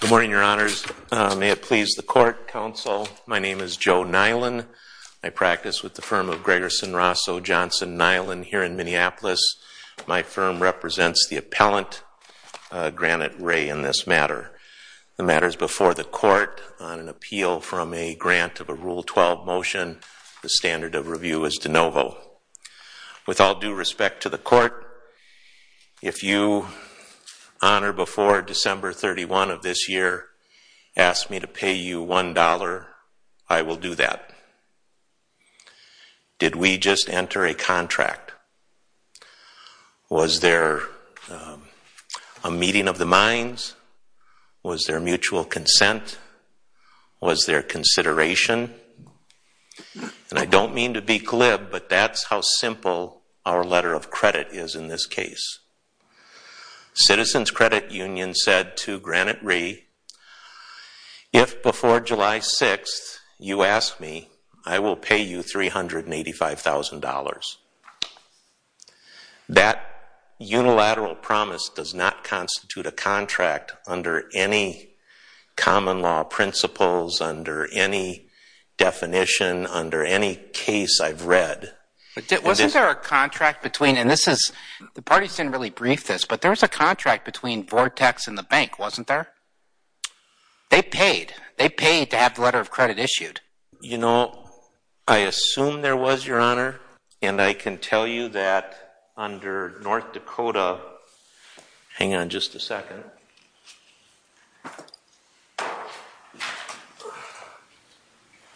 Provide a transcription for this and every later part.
Good morning, Your Honors. May it please the Court, Counsel. My name is Joe Nylan. I practice with the firm of Gregerson, Rosso, Johnson, Nylan here in Minneapolis. My firm represents the appellant, Granite Re, in this matter. The matter is before the Court on an appeal from a grant of a Rule 12 motion. The standard of review is de novo. With all due respect to the Court, if you on or before December 31 of this year ask me to pay you one dollar, I will do that. Did we just enter a contract? Was there a meeting of the minds? Was there mutual consent? Was there consideration? And I don't mean to be glib, but that's how simple our letter of credit is in this case. Citizens Credit Union said to Granite Re, if before July 6th you ask me, I will pay you $385,000. That unilateral promise does not constitute a contract under any common law principles, under any definition, under any case I've seen. There was a contract between, and the parties didn't really brief this, but there was a contract between Vortex and the bank, wasn't there? They paid. They paid to have the letter of credit issued. You know, I assume there was, Your Honor, and I can tell you that under North Dakota, hang on just a second.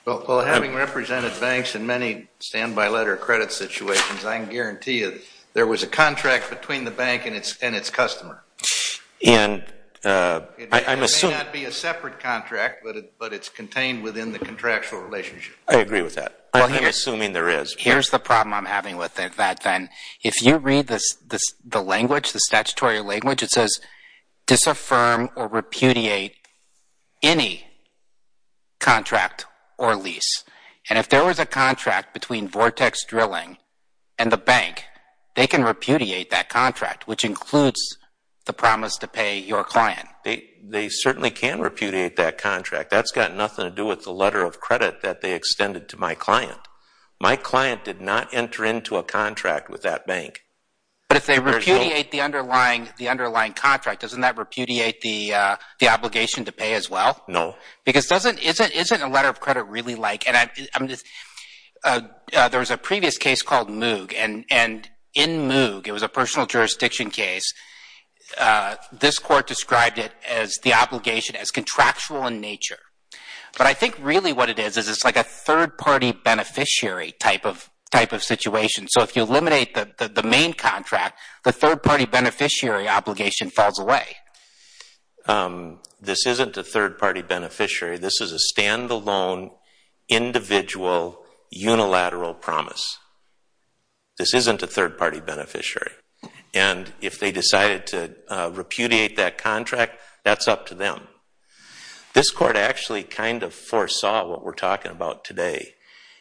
Well, having represented banks in many standby letter of credit situations, I can guarantee you there was a contract between the bank and its customer. It may not be a separate contract, but it's contained within the contractual relationship. I agree with that. I'm assuming there is. Here's the problem I'm having with that then. If you read the language, the statutory language, it says disaffirm or repudiate any contract or lease. And if there was a contract between Vortex Drilling and the bank, they can repudiate that contract, which includes the promise to pay your client. They certainly can repudiate that contract. That's got nothing to do with the letter of credit that they extended to my client. My client did not enter into a contract with that bank. But if they repudiate the underlying contract, doesn't that repudiate the obligation to pay as well? No. Because isn't a letter of credit really like... There was a previous case called Moog, and in Moog, it was a personal jurisdiction case, this court described the obligation as contractual in nature. But I think really what it is, is it's like a third-party beneficiary type of situation. So if you eliminate the main contract, the third-party beneficiary obligation falls away. This isn't a third-party beneficiary. This is a stand-alone, individual, unilateral promise. This isn't a third-party beneficiary. And if they decided to repudiate that contract, that's up to them. This court actually kind of foresaw what we're talking about today.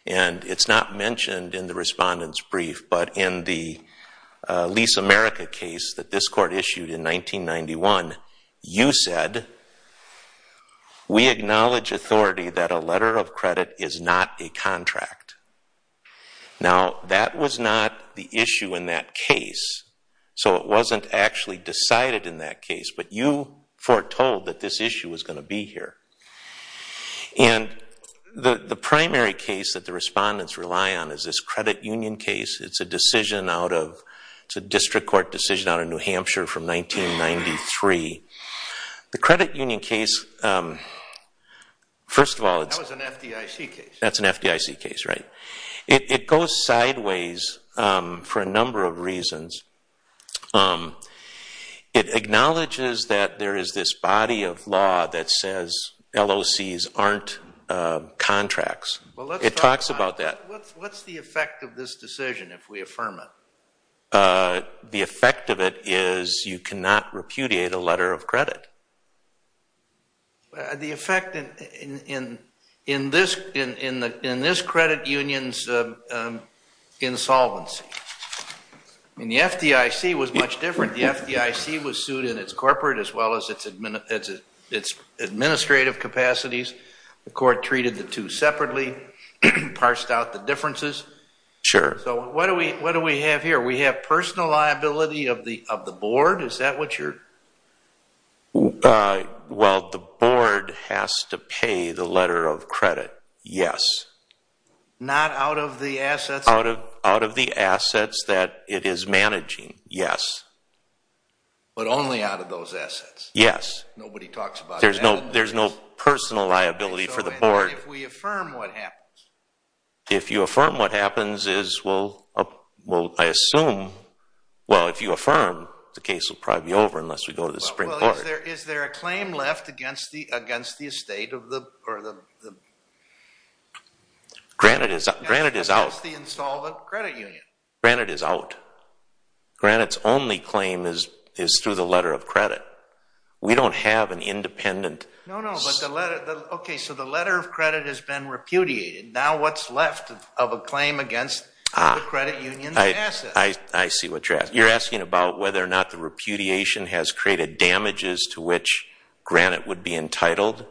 And it's not mentioned in the Respondent's Brief, but in the Lease America case that this court issued in 1991, you said, we acknowledge authority that a letter of credit is not a contract. Now, that was not the issue in that case, so it wasn't actually decided in that case. But you foretold that this issue was going to be here. And the primary case that the Respondents rely on is this credit union case. It's a decision out of... It's a district court decision out of New Hampshire from 1993. The credit union case, first of all... That was an FDIC case. That's an FDIC case, right. It goes sideways for a number of reasons. It acknowledges that there is this body of law that says LOCs aren't contracts. It talks about that. What's the effect of this decision if we affirm it? The effect of it is you cannot repudiate a letter of credit. The effect in this credit union's insolvency. And the FDIC was much different. The FDIC was sued in its corporate as well as its administrative capacities. The court treated the two separately, parsed out the differences. Sure. So what do we have here? We have personal liability of the board. Is that what you're... Well, the board has to pay the letter of credit, yes. Not out of the assets? Out of the assets that it is managing, yes. But only out of those assets? Yes. Nobody talks about... There's no personal liability for the board. But if we affirm what happens? If you affirm what happens, I assume... Well, if you affirm, the case will probably be over unless we go to the Supreme Court. Is there a claim left against the estate? Granite is out. Against the insolvent credit union. Granite is out. Granite's only claim is through the letter of credit. We don't have an independent... No, no. Okay, so the letter of credit has been repudiated. Now what's left of a claim against the credit union's assets? I see what you're asking. You're asking about whether or not the repudiation has created damages to which Granite would be entitled.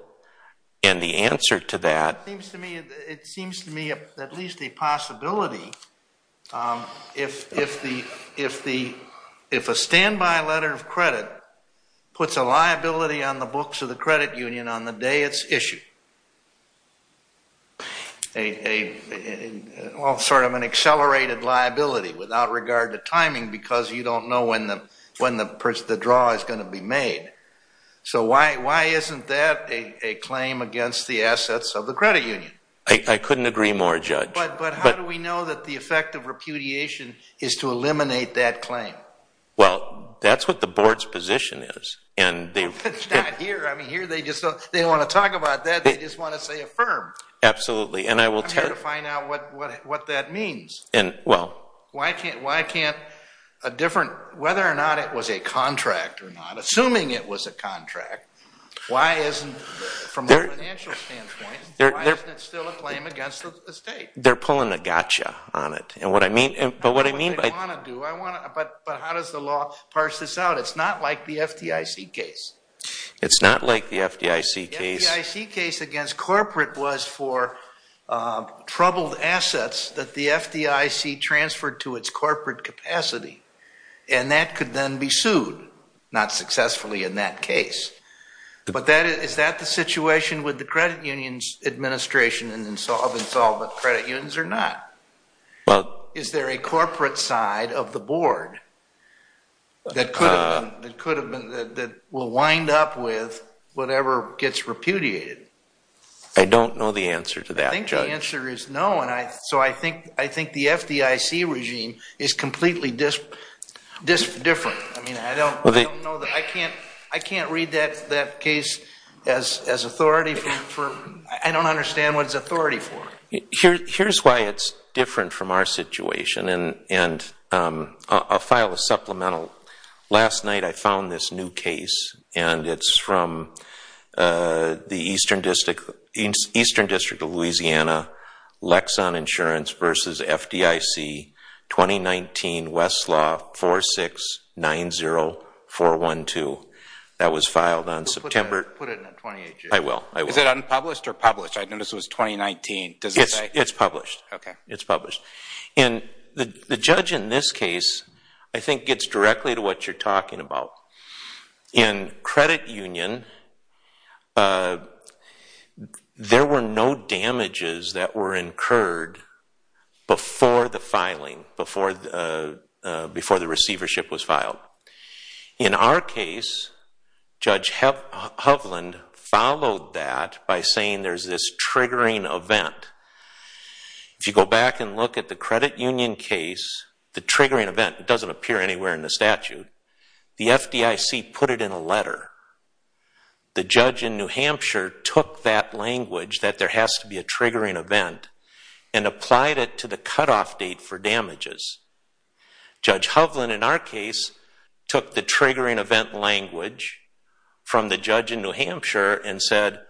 And the answer to that... It seems to me at least a possibility if a standby letter of credit puts a liability on the books of the credit union on the day it's issued. All sort of an accelerated liability without regard to timing because you don't know when the draw is going to be made. So why isn't that a claim against the assets of the credit union? I couldn't agree more, Judge. But how do we know that the effect of repudiation is to eliminate that claim? Well, that's what the board's position is. It's not here. They don't want to talk about that. They just want to say affirm. Absolutely. I'm here to find out what that means. Why can't a different... Whether or not it was a contract or not, assuming it was a contract, why isn't, from a financial standpoint, why isn't it still a claim against the state? They're pulling a gotcha on it. I don't know what they want to do, but how does the law parse this out? It's not like the FDIC case. It's not like the FDIC case? The FDIC case against corporate was for troubled assets that the FDIC transferred to its corporate capacity. And that could then be sued, not successfully in that case. But is that the situation with the credit union's administration of insolvent credit unions or not? Is there a corporate side of the board that will wind up with whatever gets repudiated? I don't know the answer to that, Judge. I think the answer is no. So I think the FDIC regime is completely different. I can't read that case as authority. I don't understand what it's authority for. Here's why it's different from our situation. And I'll file a supplemental. Last night I found this new case. And it's from the Eastern District of Louisiana Lexan Insurance versus FDIC 2019 Westlaw 4690412. That was filed on September... Put it in the 28th. I will. Is it unpublished or published? I noticed it was 2019. It's published. Okay. It's published. And the judge in this case I think gets directly to what you're talking about. In credit union, there were no damages that were incurred before the filing, before the receivership was filed. In our case, Judge Hovland followed that by saying there's this triggering event. If you go back and look at the credit union case, the triggering event doesn't appear anywhere in the statute. The FDIC put it in a letter. The judge in New Hampshire took that language that there has to be a triggering event and applied it to the cutoff date for damages. Judge Hovland in our case took the triggering event language from the judge in New Hampshire and said,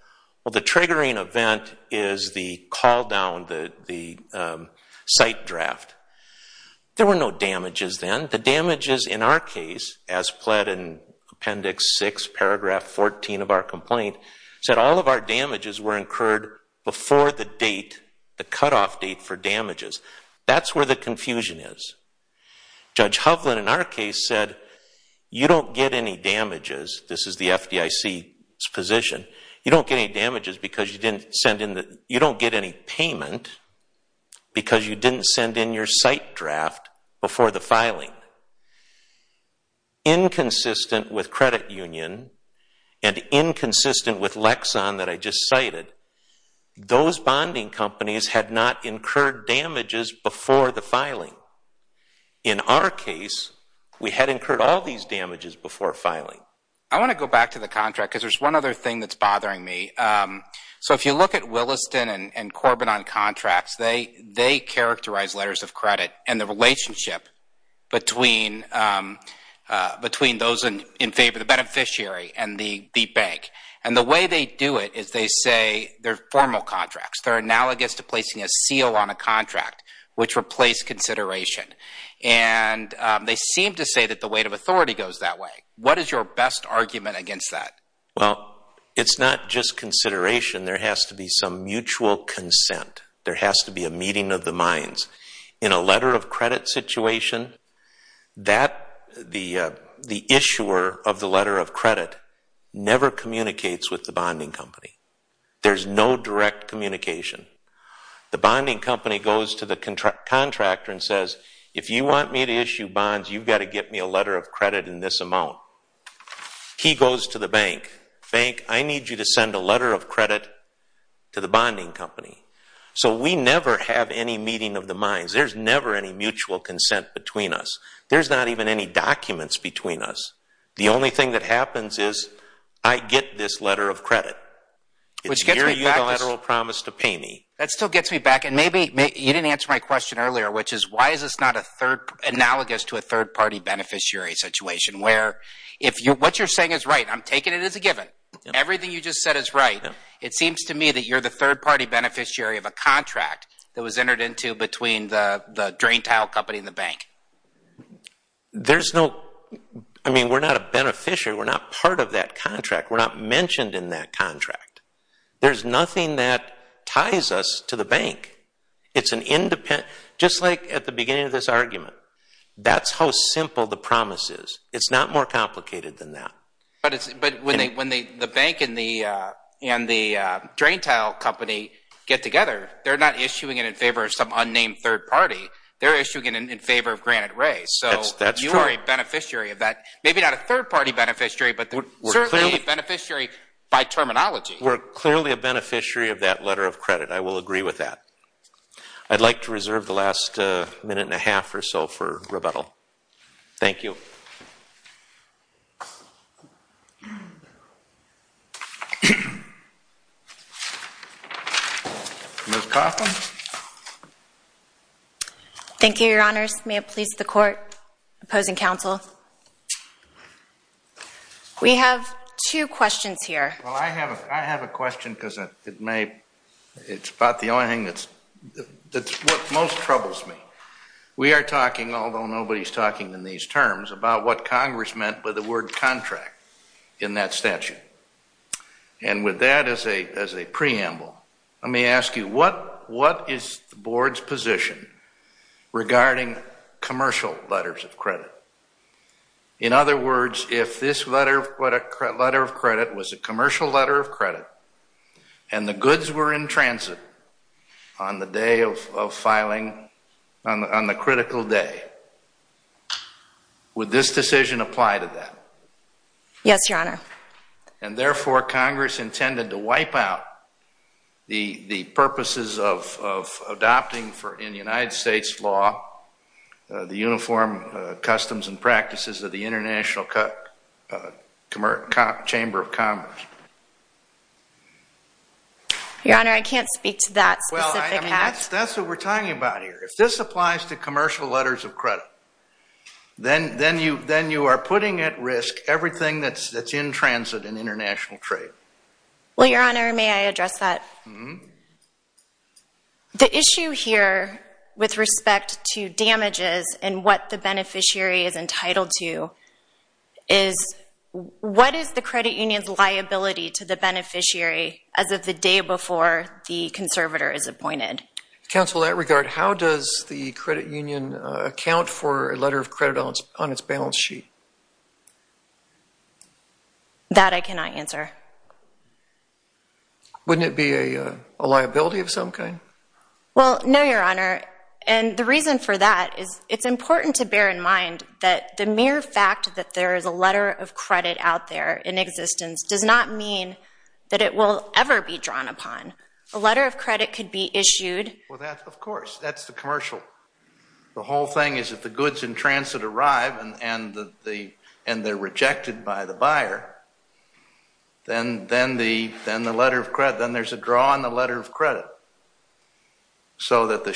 well, the triggering event is the call down, the site draft. There were no damages then. The damages in our case, as pled in Appendix 6, Paragraph 14 of our complaint, said all of our damages were incurred before the date, the cutoff date for damages. That's where the confusion is. Judge Hovland in our case said, you don't get any damages, this is the FDIC's position, you don't get any damages because you didn't send in the, you don't get any payment because you didn't send in your site draft before the filing. Inconsistent with credit union and inconsistent with Lexon that I just cited, those bonding companies had not incurred damages before the filing. In our case, we had incurred all these damages before filing. I want to go back to the contract because there's one other thing that's bothering me. So if you look at Williston and Corbin on contracts, they characterize letters of credit and the relationship between those in favor, the beneficiary and the bank. And the way they do it is they say they're formal contracts. They're analogous to placing a seal on a contract, which replaced consideration. And they seem to say that the weight of authority goes that way. What is your best argument against that? Well, it's not just consideration, there has to be some mutual consent. There has to be a meeting of the minds. In a letter of credit situation, the issuer of the letter of credit never communicates with the bonding company. There's no direct communication. The bonding company goes to the contractor and says, if you want me to issue bonds, you've got to get me a letter of credit in this amount. He goes to the bank. Bank, I need you to send a letter of credit to the bonding company. So we never have any meeting of the minds. There's never any mutual consent between us. There's not even any documents between us. The only thing that happens is I get this letter of credit. It's your unilateral promise to pay me. That still gets me back. And maybe you didn't answer my question earlier, which is why is this not analogous to a third-party beneficiary situation, where what you're saying is right. I'm taking it as a given. Everything you just said is right. It seems to me that you're the third-party beneficiary of a contract that was entered into between the drain tile company and the bank. We're not a beneficiary. We're not part of that contract. We're not mentioned in that contract. There's nothing that ties us to the bank. Just like at the beginning of this argument, that's how simple the promise is. It's not more complicated than that. But when the bank and the drain tile company get together, they're not issuing it in favor of some unnamed third party. They're issuing it in favor of Granite Ray. So you are a beneficiary of that. Maybe not a third-party beneficiary, but certainly a beneficiary by terminology. We're clearly a beneficiary of that letter of credit. I will agree with that. I'd like to reserve the last minute and a half or so for rebuttal. Thank you. Ms. Coffin? Thank you, Your Honors. May it please the Court, opposing counsel. We have two questions here. Well, I have a question because it may... It's about the only thing that most troubles me. We are talking, although nobody's talking in these terms, about what Congress meant by the word contract. In that statute. And with that as a preamble, let me ask you, what is the Board's position regarding commercial letters of credit? In other words, if this letter of credit was a commercial letter of credit and the goods were in transit on the day of filing, on the critical day, would this decision apply to that? Yes, Your Honor. And therefore, Congress intended to wipe out the purposes of adopting, in United States law, the uniform customs and practices of the International Chamber of Commerce. Your Honor, I can't speak to that specific act. That's what we're talking about here. If this applies to commercial letters of credit, then you are putting at risk everything that's in transit in international trade. Well, Your Honor, may I address that? The issue here with respect to damages and what the beneficiary is entitled to is, what is the credit union's liability as of the day before the conservator is appointed? Counsel, in that regard, how does the credit union account for a letter of credit on its balance sheet? That I cannot answer. Wouldn't it be a liability of some kind? Well, no, Your Honor. And the reason for that is it's important to bear in mind that the mere fact that there is a letter of credit out there in existence does not mean that it will ever be drawn upon. A letter of credit could be issued Well, of course. That's the commercial. The whole thing is that the goods in transit arrive and they're rejected by the buyer. Then there's a draw on the letter of credit. So that the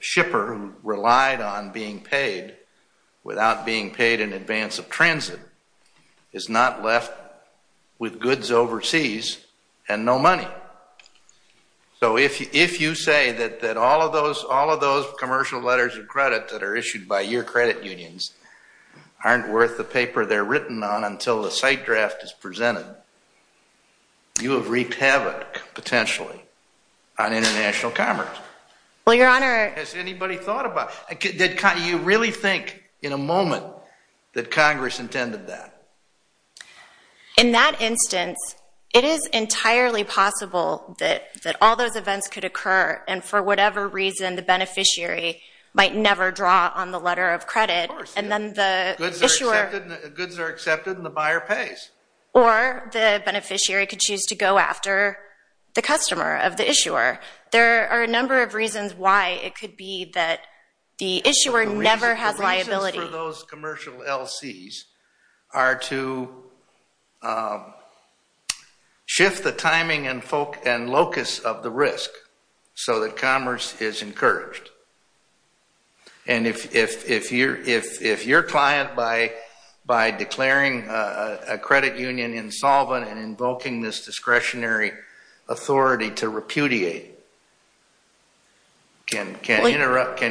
shipper who relied on being paid without being paid in advance of transit is not left with goods overseas and no money. So if you say that all of those commercial letters of credit that are issued by your credit unions aren't worth the paper they're written on until the site draft is presented, you have wreaked havoc, potentially, on international commerce. Well, Your Honor. Has anybody thought about it? Did you really think in a moment that Congress intended that? In that instance, it is entirely possible that all those events could occur and for whatever reason the beneficiary might never draw on the letter of credit. Of course. Goods are accepted and the buyer pays. Or the beneficiary could choose to go after the customer of the issuer. There are a number of reasons why it could be that the issuer never has liability. The reasons for those commercial LCs are to shift the timing and locus of the risk so that commerce is encouraged. And if your client by declaring a credit union insolvent and invoking this discretionary authority to repudiate can interrupt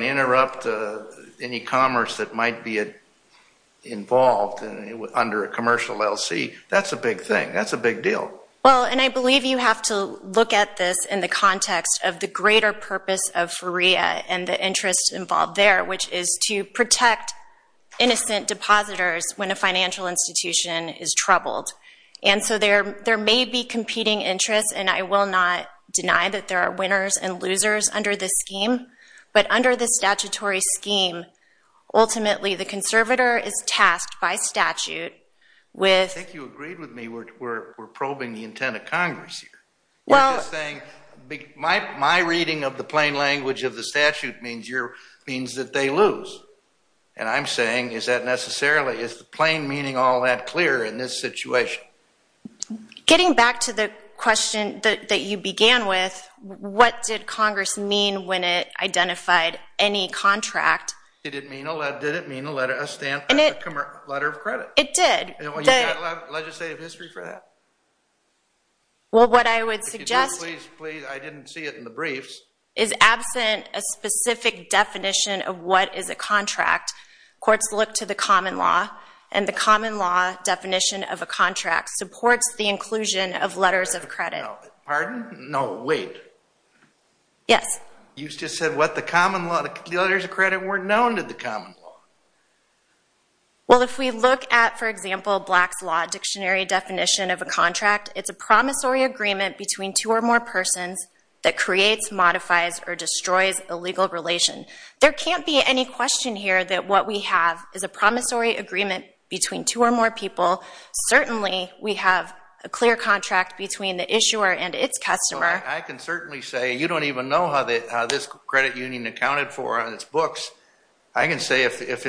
any commerce that might be involved under a commercial LC, that's a big thing. That's a big deal. Well, and I believe you have to look at this in the context of the greater purpose of FREA and the interest involved there, which is to protect innocent depositors when a financial institution is troubled. And so there may be competing interests and I will not deny that there are winners and losers under this scheme but under this statutory scheme ultimately the conservator is tasked by statute with... I think you agreed with me we're probing the intent of Congress here. You're just saying my reading of the plain language of the statute means that they lose. And I'm saying is that necessarily plain meaning all that clear in this situation? Getting back to the question that you began with, what did Congress mean when it identified any contract? Did it mean a stamp or a letter of credit? It did. Do you have legislative history for that? Well, what I would suggest I didn't see it in the briefs is absent a specific definition of what is a contract courts look to the common law and the common law definition of a contract supports the inclusion of letters of credit. Pardon? No, wait. Yes. You just said what? The letters of credit weren't known to the common law. Well, if we look at, for example, Black's Law dictionary definition of a contract, it's a promissory agreement between two or more persons that creates, modifies, or destroys a legal relation. There can't be any question here that what we have is a promissory agreement between two or more people. Certainly, we have a clear contract between the issuer and its customer. I can certainly say you don't even know how this credit union accounted for on its books. I can say if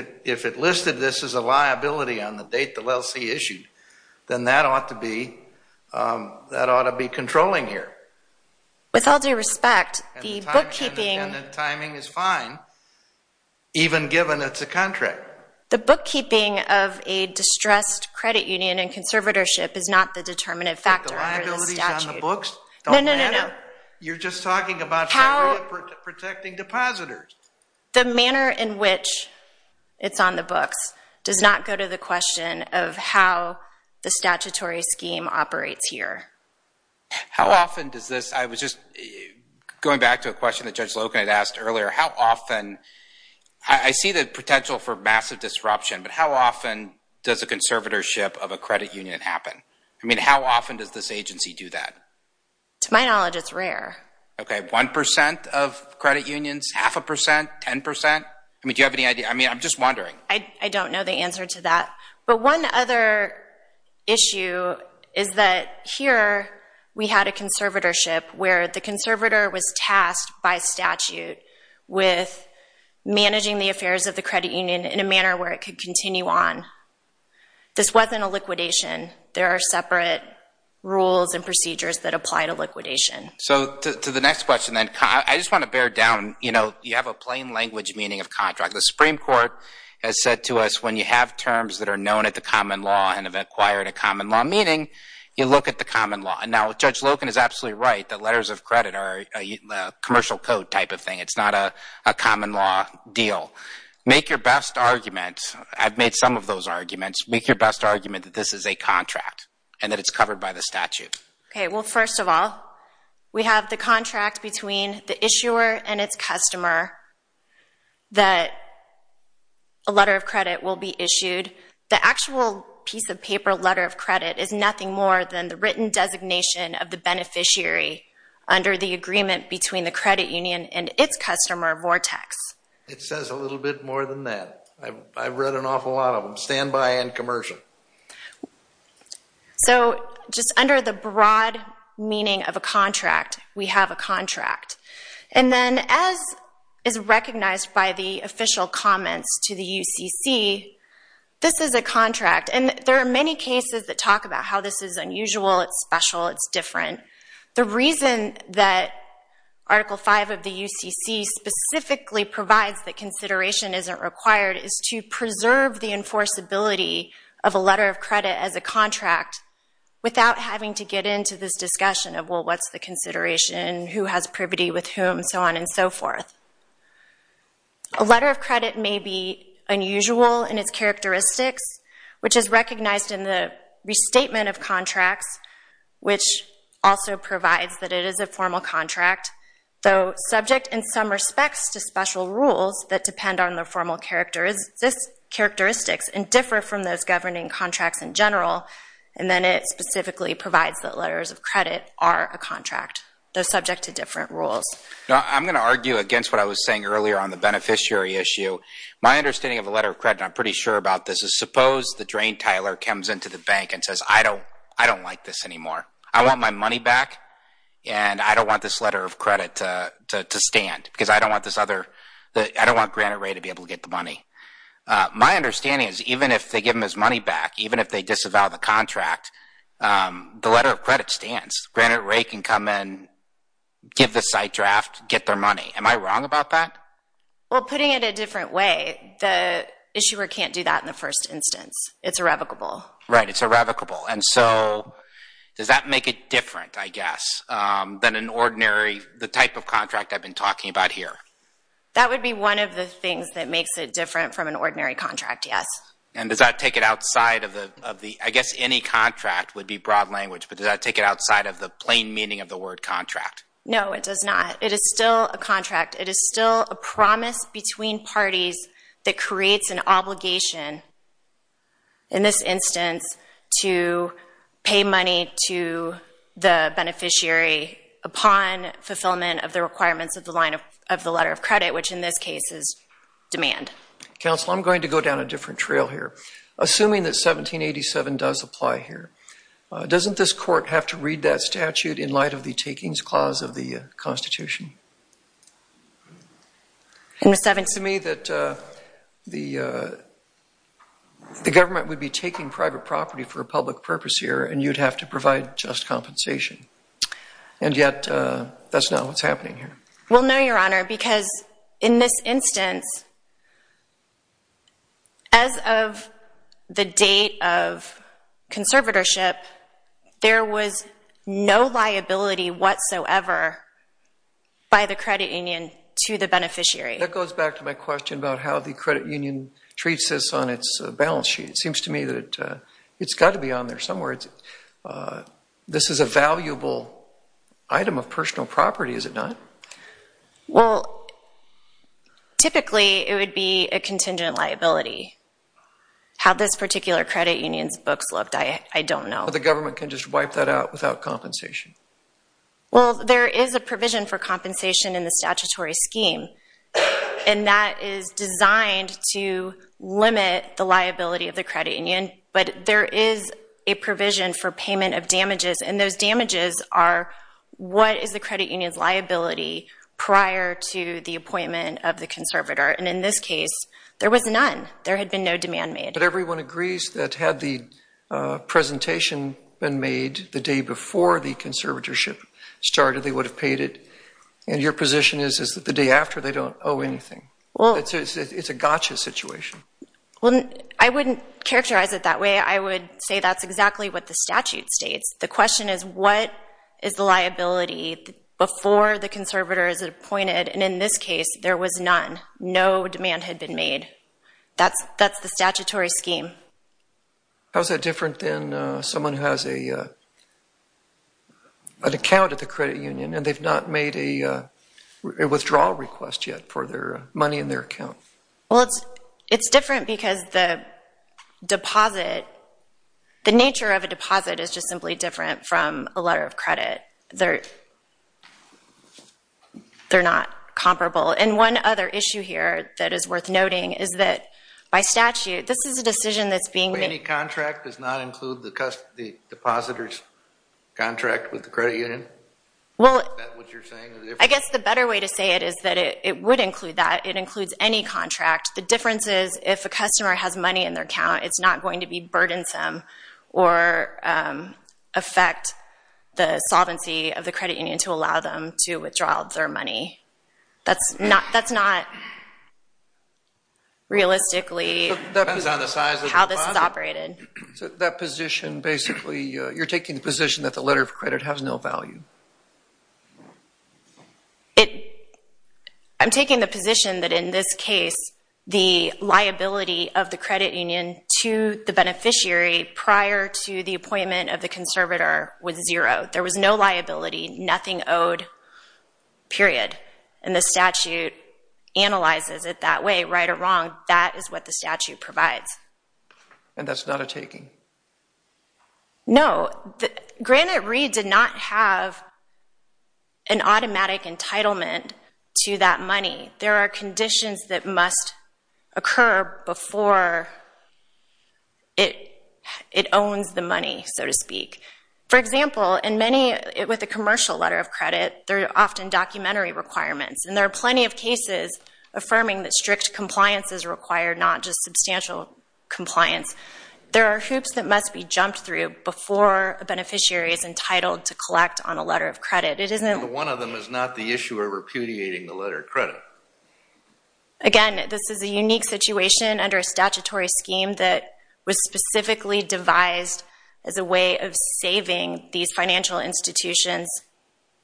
it listed this as a liability on the date the LLC issued, then that ought to be controlling here. With all due respect, the bookkeeping And the timing is fine even given it's a contract. The bookkeeping of a distressed credit union and conservatorship is not the determinative factor under this statute. But the liabilities on the books don't matter. You're just talking about protecting depositors. The manner in which it's on the books does not go to the question of how the statutory scheme operates here. How often does this, I was just going back to a question that Judge Loken had asked earlier, how often I see the potential for massive disruption, but how often does a conservatorship of a credit union happen? I mean, how often does this agency do that? To my knowledge, it's rare. Okay, 1% of credit unions? Half a percent? 10%? I mean, do you have any idea? I'm just wondering. I don't know the answer to that. But one other issue is that here we had a conservatorship where the conservator was tasked by statute with managing the affairs of the credit union in a manner where it could continue on. This wasn't a liquidation. There are separate rules and procedures that apply to liquidation. So, to the next question then, I just want to bear down, you know, you have a plain language meaning of contract. The Supreme Court has said to us, when you have terms that are known at the common law and have acquired a common law meaning, you look at the common law. Now, Judge Loken is absolutely right that letters of credit are a commercial code type of thing. It's not a common law deal. Make your best argument, I've made some of those arguments, make your best argument that this is a contract and that it's covered by the statute. Well, first of all, we have the contract between the issuer and its customer that a letter of credit will be issued. The actual piece of paper, letter of credit, is nothing more than the written designation of the beneficiary under the agreement between the credit union and its customer, Vortex. It says a little bit more than that. I've read an awful lot of them, standby and commercial. So, just under the broad meaning of a contract, we have a contract. As is recognized by the official comments to the UCC, this is a contract. There are many cases that talk about how this is unusual, it's special, it's different. The reason that Article V of the UCC specifically provides that consideration isn't required is to preserve the enforceability of a letter of credit as a contract without having to get into this discussion of, well, what's the consideration, who has privity with whom, so on and so forth. A letter of credit may be unusual in its characteristics, which is recognized in the restatement of contracts, which also provides that it is a formal contract, though subject in some respects to special rules that depend on the formal characteristics and differ from those governing contracts in general, and then it specifically provides that letters of credit are a contract, though subject to different rules. I'm going to argue against what I was saying earlier on the beneficiary issue. My understanding of a letter of credit, and I'm pretty sure about this, is suppose the drain tiler comes into the bank and says, I don't like this anymore. I want my money back, and I don't want this letter of credit to stand, because I don't want this other I don't want Granite Ray to be able to get the money. My understanding is even if they give him his money back, even if they disavow the contract, the letter of credit stands. Granite Ray can come and give the site draft, get their money. Am I wrong about that? Well, putting it a different way, the issuer can't do that in the first instance. It's irrevocable. Right, it's irrevocable. And so, does that make it different, I guess, than an ordinary, the type of contract I've been talking about here? That would be one of the things that makes it different from an ordinary contract, yes. And does that take it outside of the I guess any contract would be broad language, but does that take it outside of the plain meaning of the word contract? No, it does not. It is still a contract. It is still a promise between parties that creates an obligation in this instance to pay money to the beneficiary upon fulfillment of the requirements of the letter of credit, which in this case is demand. Counsel, I'm going to go down a different trail here. Assuming that 1787 does apply here, doesn't this court have to read that statute in light of the takings clause of the Constitution? It seems to me that the government would be taking private property for a public purpose here, and you'd have to provide just compensation. And yet, that's not what's happening here. We'll know, Your Honor, because in this instance, as of the date of conservatorship, there was no liability whatsoever by the credit union to the beneficiary. That goes back to my question about how the credit union treats this on its balance sheet. It seems to me that it's got to be down there somewhere. This is a valuable item of personal property, is it not? Well, typically, it would be a contingent liability. How this particular credit union's books looked, I don't know. The government can just wipe that out without compensation. Well, there is a provision for compensation in the statutory scheme, and that is designed to limit the liability of the credit union. But there is a provision for payment of damages, and those damages are what is the credit union's liability prior to the appointment of the conservator. And in this case, there was none. There had been no demand made. But everyone agrees that had the presentation been made the day before the conservatorship started, they would have paid it. And your position is that the day after, they don't owe anything. It's a gotcha situation. Well, I wouldn't characterize it that way. I would say that's exactly what the statute states. The question is, what is the liability before the conservator is appointed? And in this case, there was none. No demand had been made. That's the statutory scheme. How is that different than someone who has an account at the credit union, and they've not made a withdrawal request yet for their money in their account? It's different because the deposit, the nature of a deposit is just simply different from a letter of credit. They're not comparable. And one other issue here that is worth noting is that by statute, this is a decision that's being made. Any contract does not include the depositor's contract with the credit union? Is that what you're saying? I guess the better way to say it is that it would include that. It includes any contract. The difference is, if a customer has money in their account, it's not going to be burdensome or affect the solvency of the credit union to allow them to withdraw their money. That's not realistically how this is operated. You're taking the position that the letter of credit has no value? I'm taking the position that in this case, the liability of the credit union to the beneficiary prior to the appointment of the conservator was zero. There was no liability, nothing owed, period. And the statute analyzes it that way, right or wrong. That is what the statute provides. And that's not a taking? No. Granted, Reed did not have an automatic entitlement to that money. There are conditions that must occur before it owns the money, so to speak. For example, with a commercial letter of credit, there are often documentary requirements. And there are plenty of cases affirming that strict compliance is required, not just substantial compliance. There are hoops that must be jumped through before a beneficiary is entitled to collect on a letter of credit. One of them is not the issue of repudiating the letter of credit. Again, this is a unique situation under a statutory scheme that was specifically devised as a way of saving these financial institutions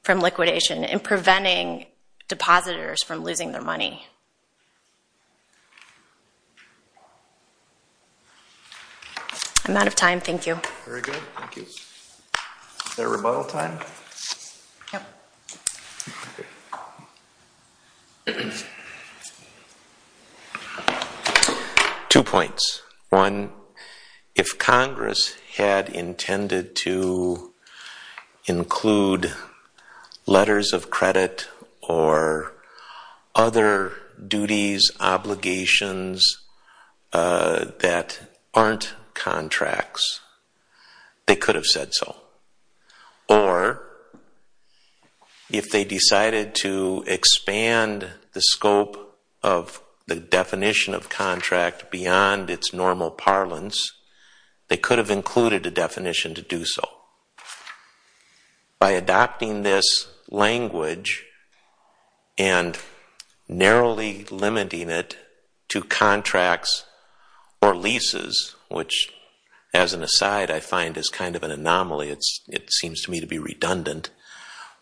from liquidation and preventing depositors from losing their money. I'm out of time. Thank you. Very good. Thank you. Is there a rebuttal time? Yep. Two points. One, if Congress had intended to include letters of credit or other duties, obligations that aren't contracts, they could have said so. Or, if they decided to expand the scope of the definition of contract beyond its normal parlance, they could have included a definition to do so. By adopting this language and narrowly limiting it to contracts or leases, which, as an aside, I find is kind of an anomaly. It seems to me to be redundant.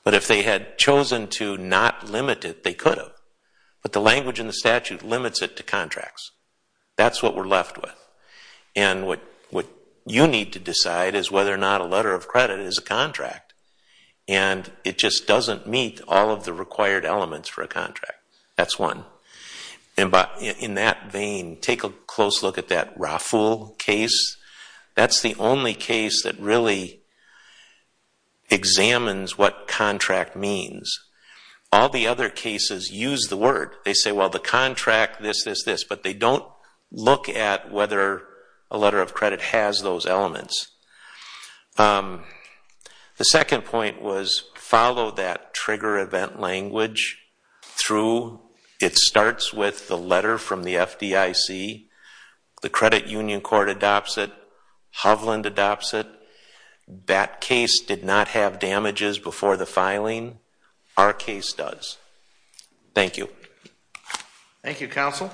But if they had chosen to not limit it, they could have. But the language in the statute limits it to contracts. That's what we're left with. And what you need to decide is whether or not a letter of credit is a contract. And it just doesn't meet all of the required elements for a contract. That's one. In that vein, take a close look at that Raffle case. That's the only case that really examines what contract means. All the other cases use the word. They say, well, the contract, this, this, this. But they don't look at whether a letter of credit has those elements. The second point was, follow that trigger event language through. It starts with the letter from the FDIC. The Credit Union Court adopts it. Hovland adopts it. That case did not have damages before the filing. Our case does. Thank you. Thank you, Counsel.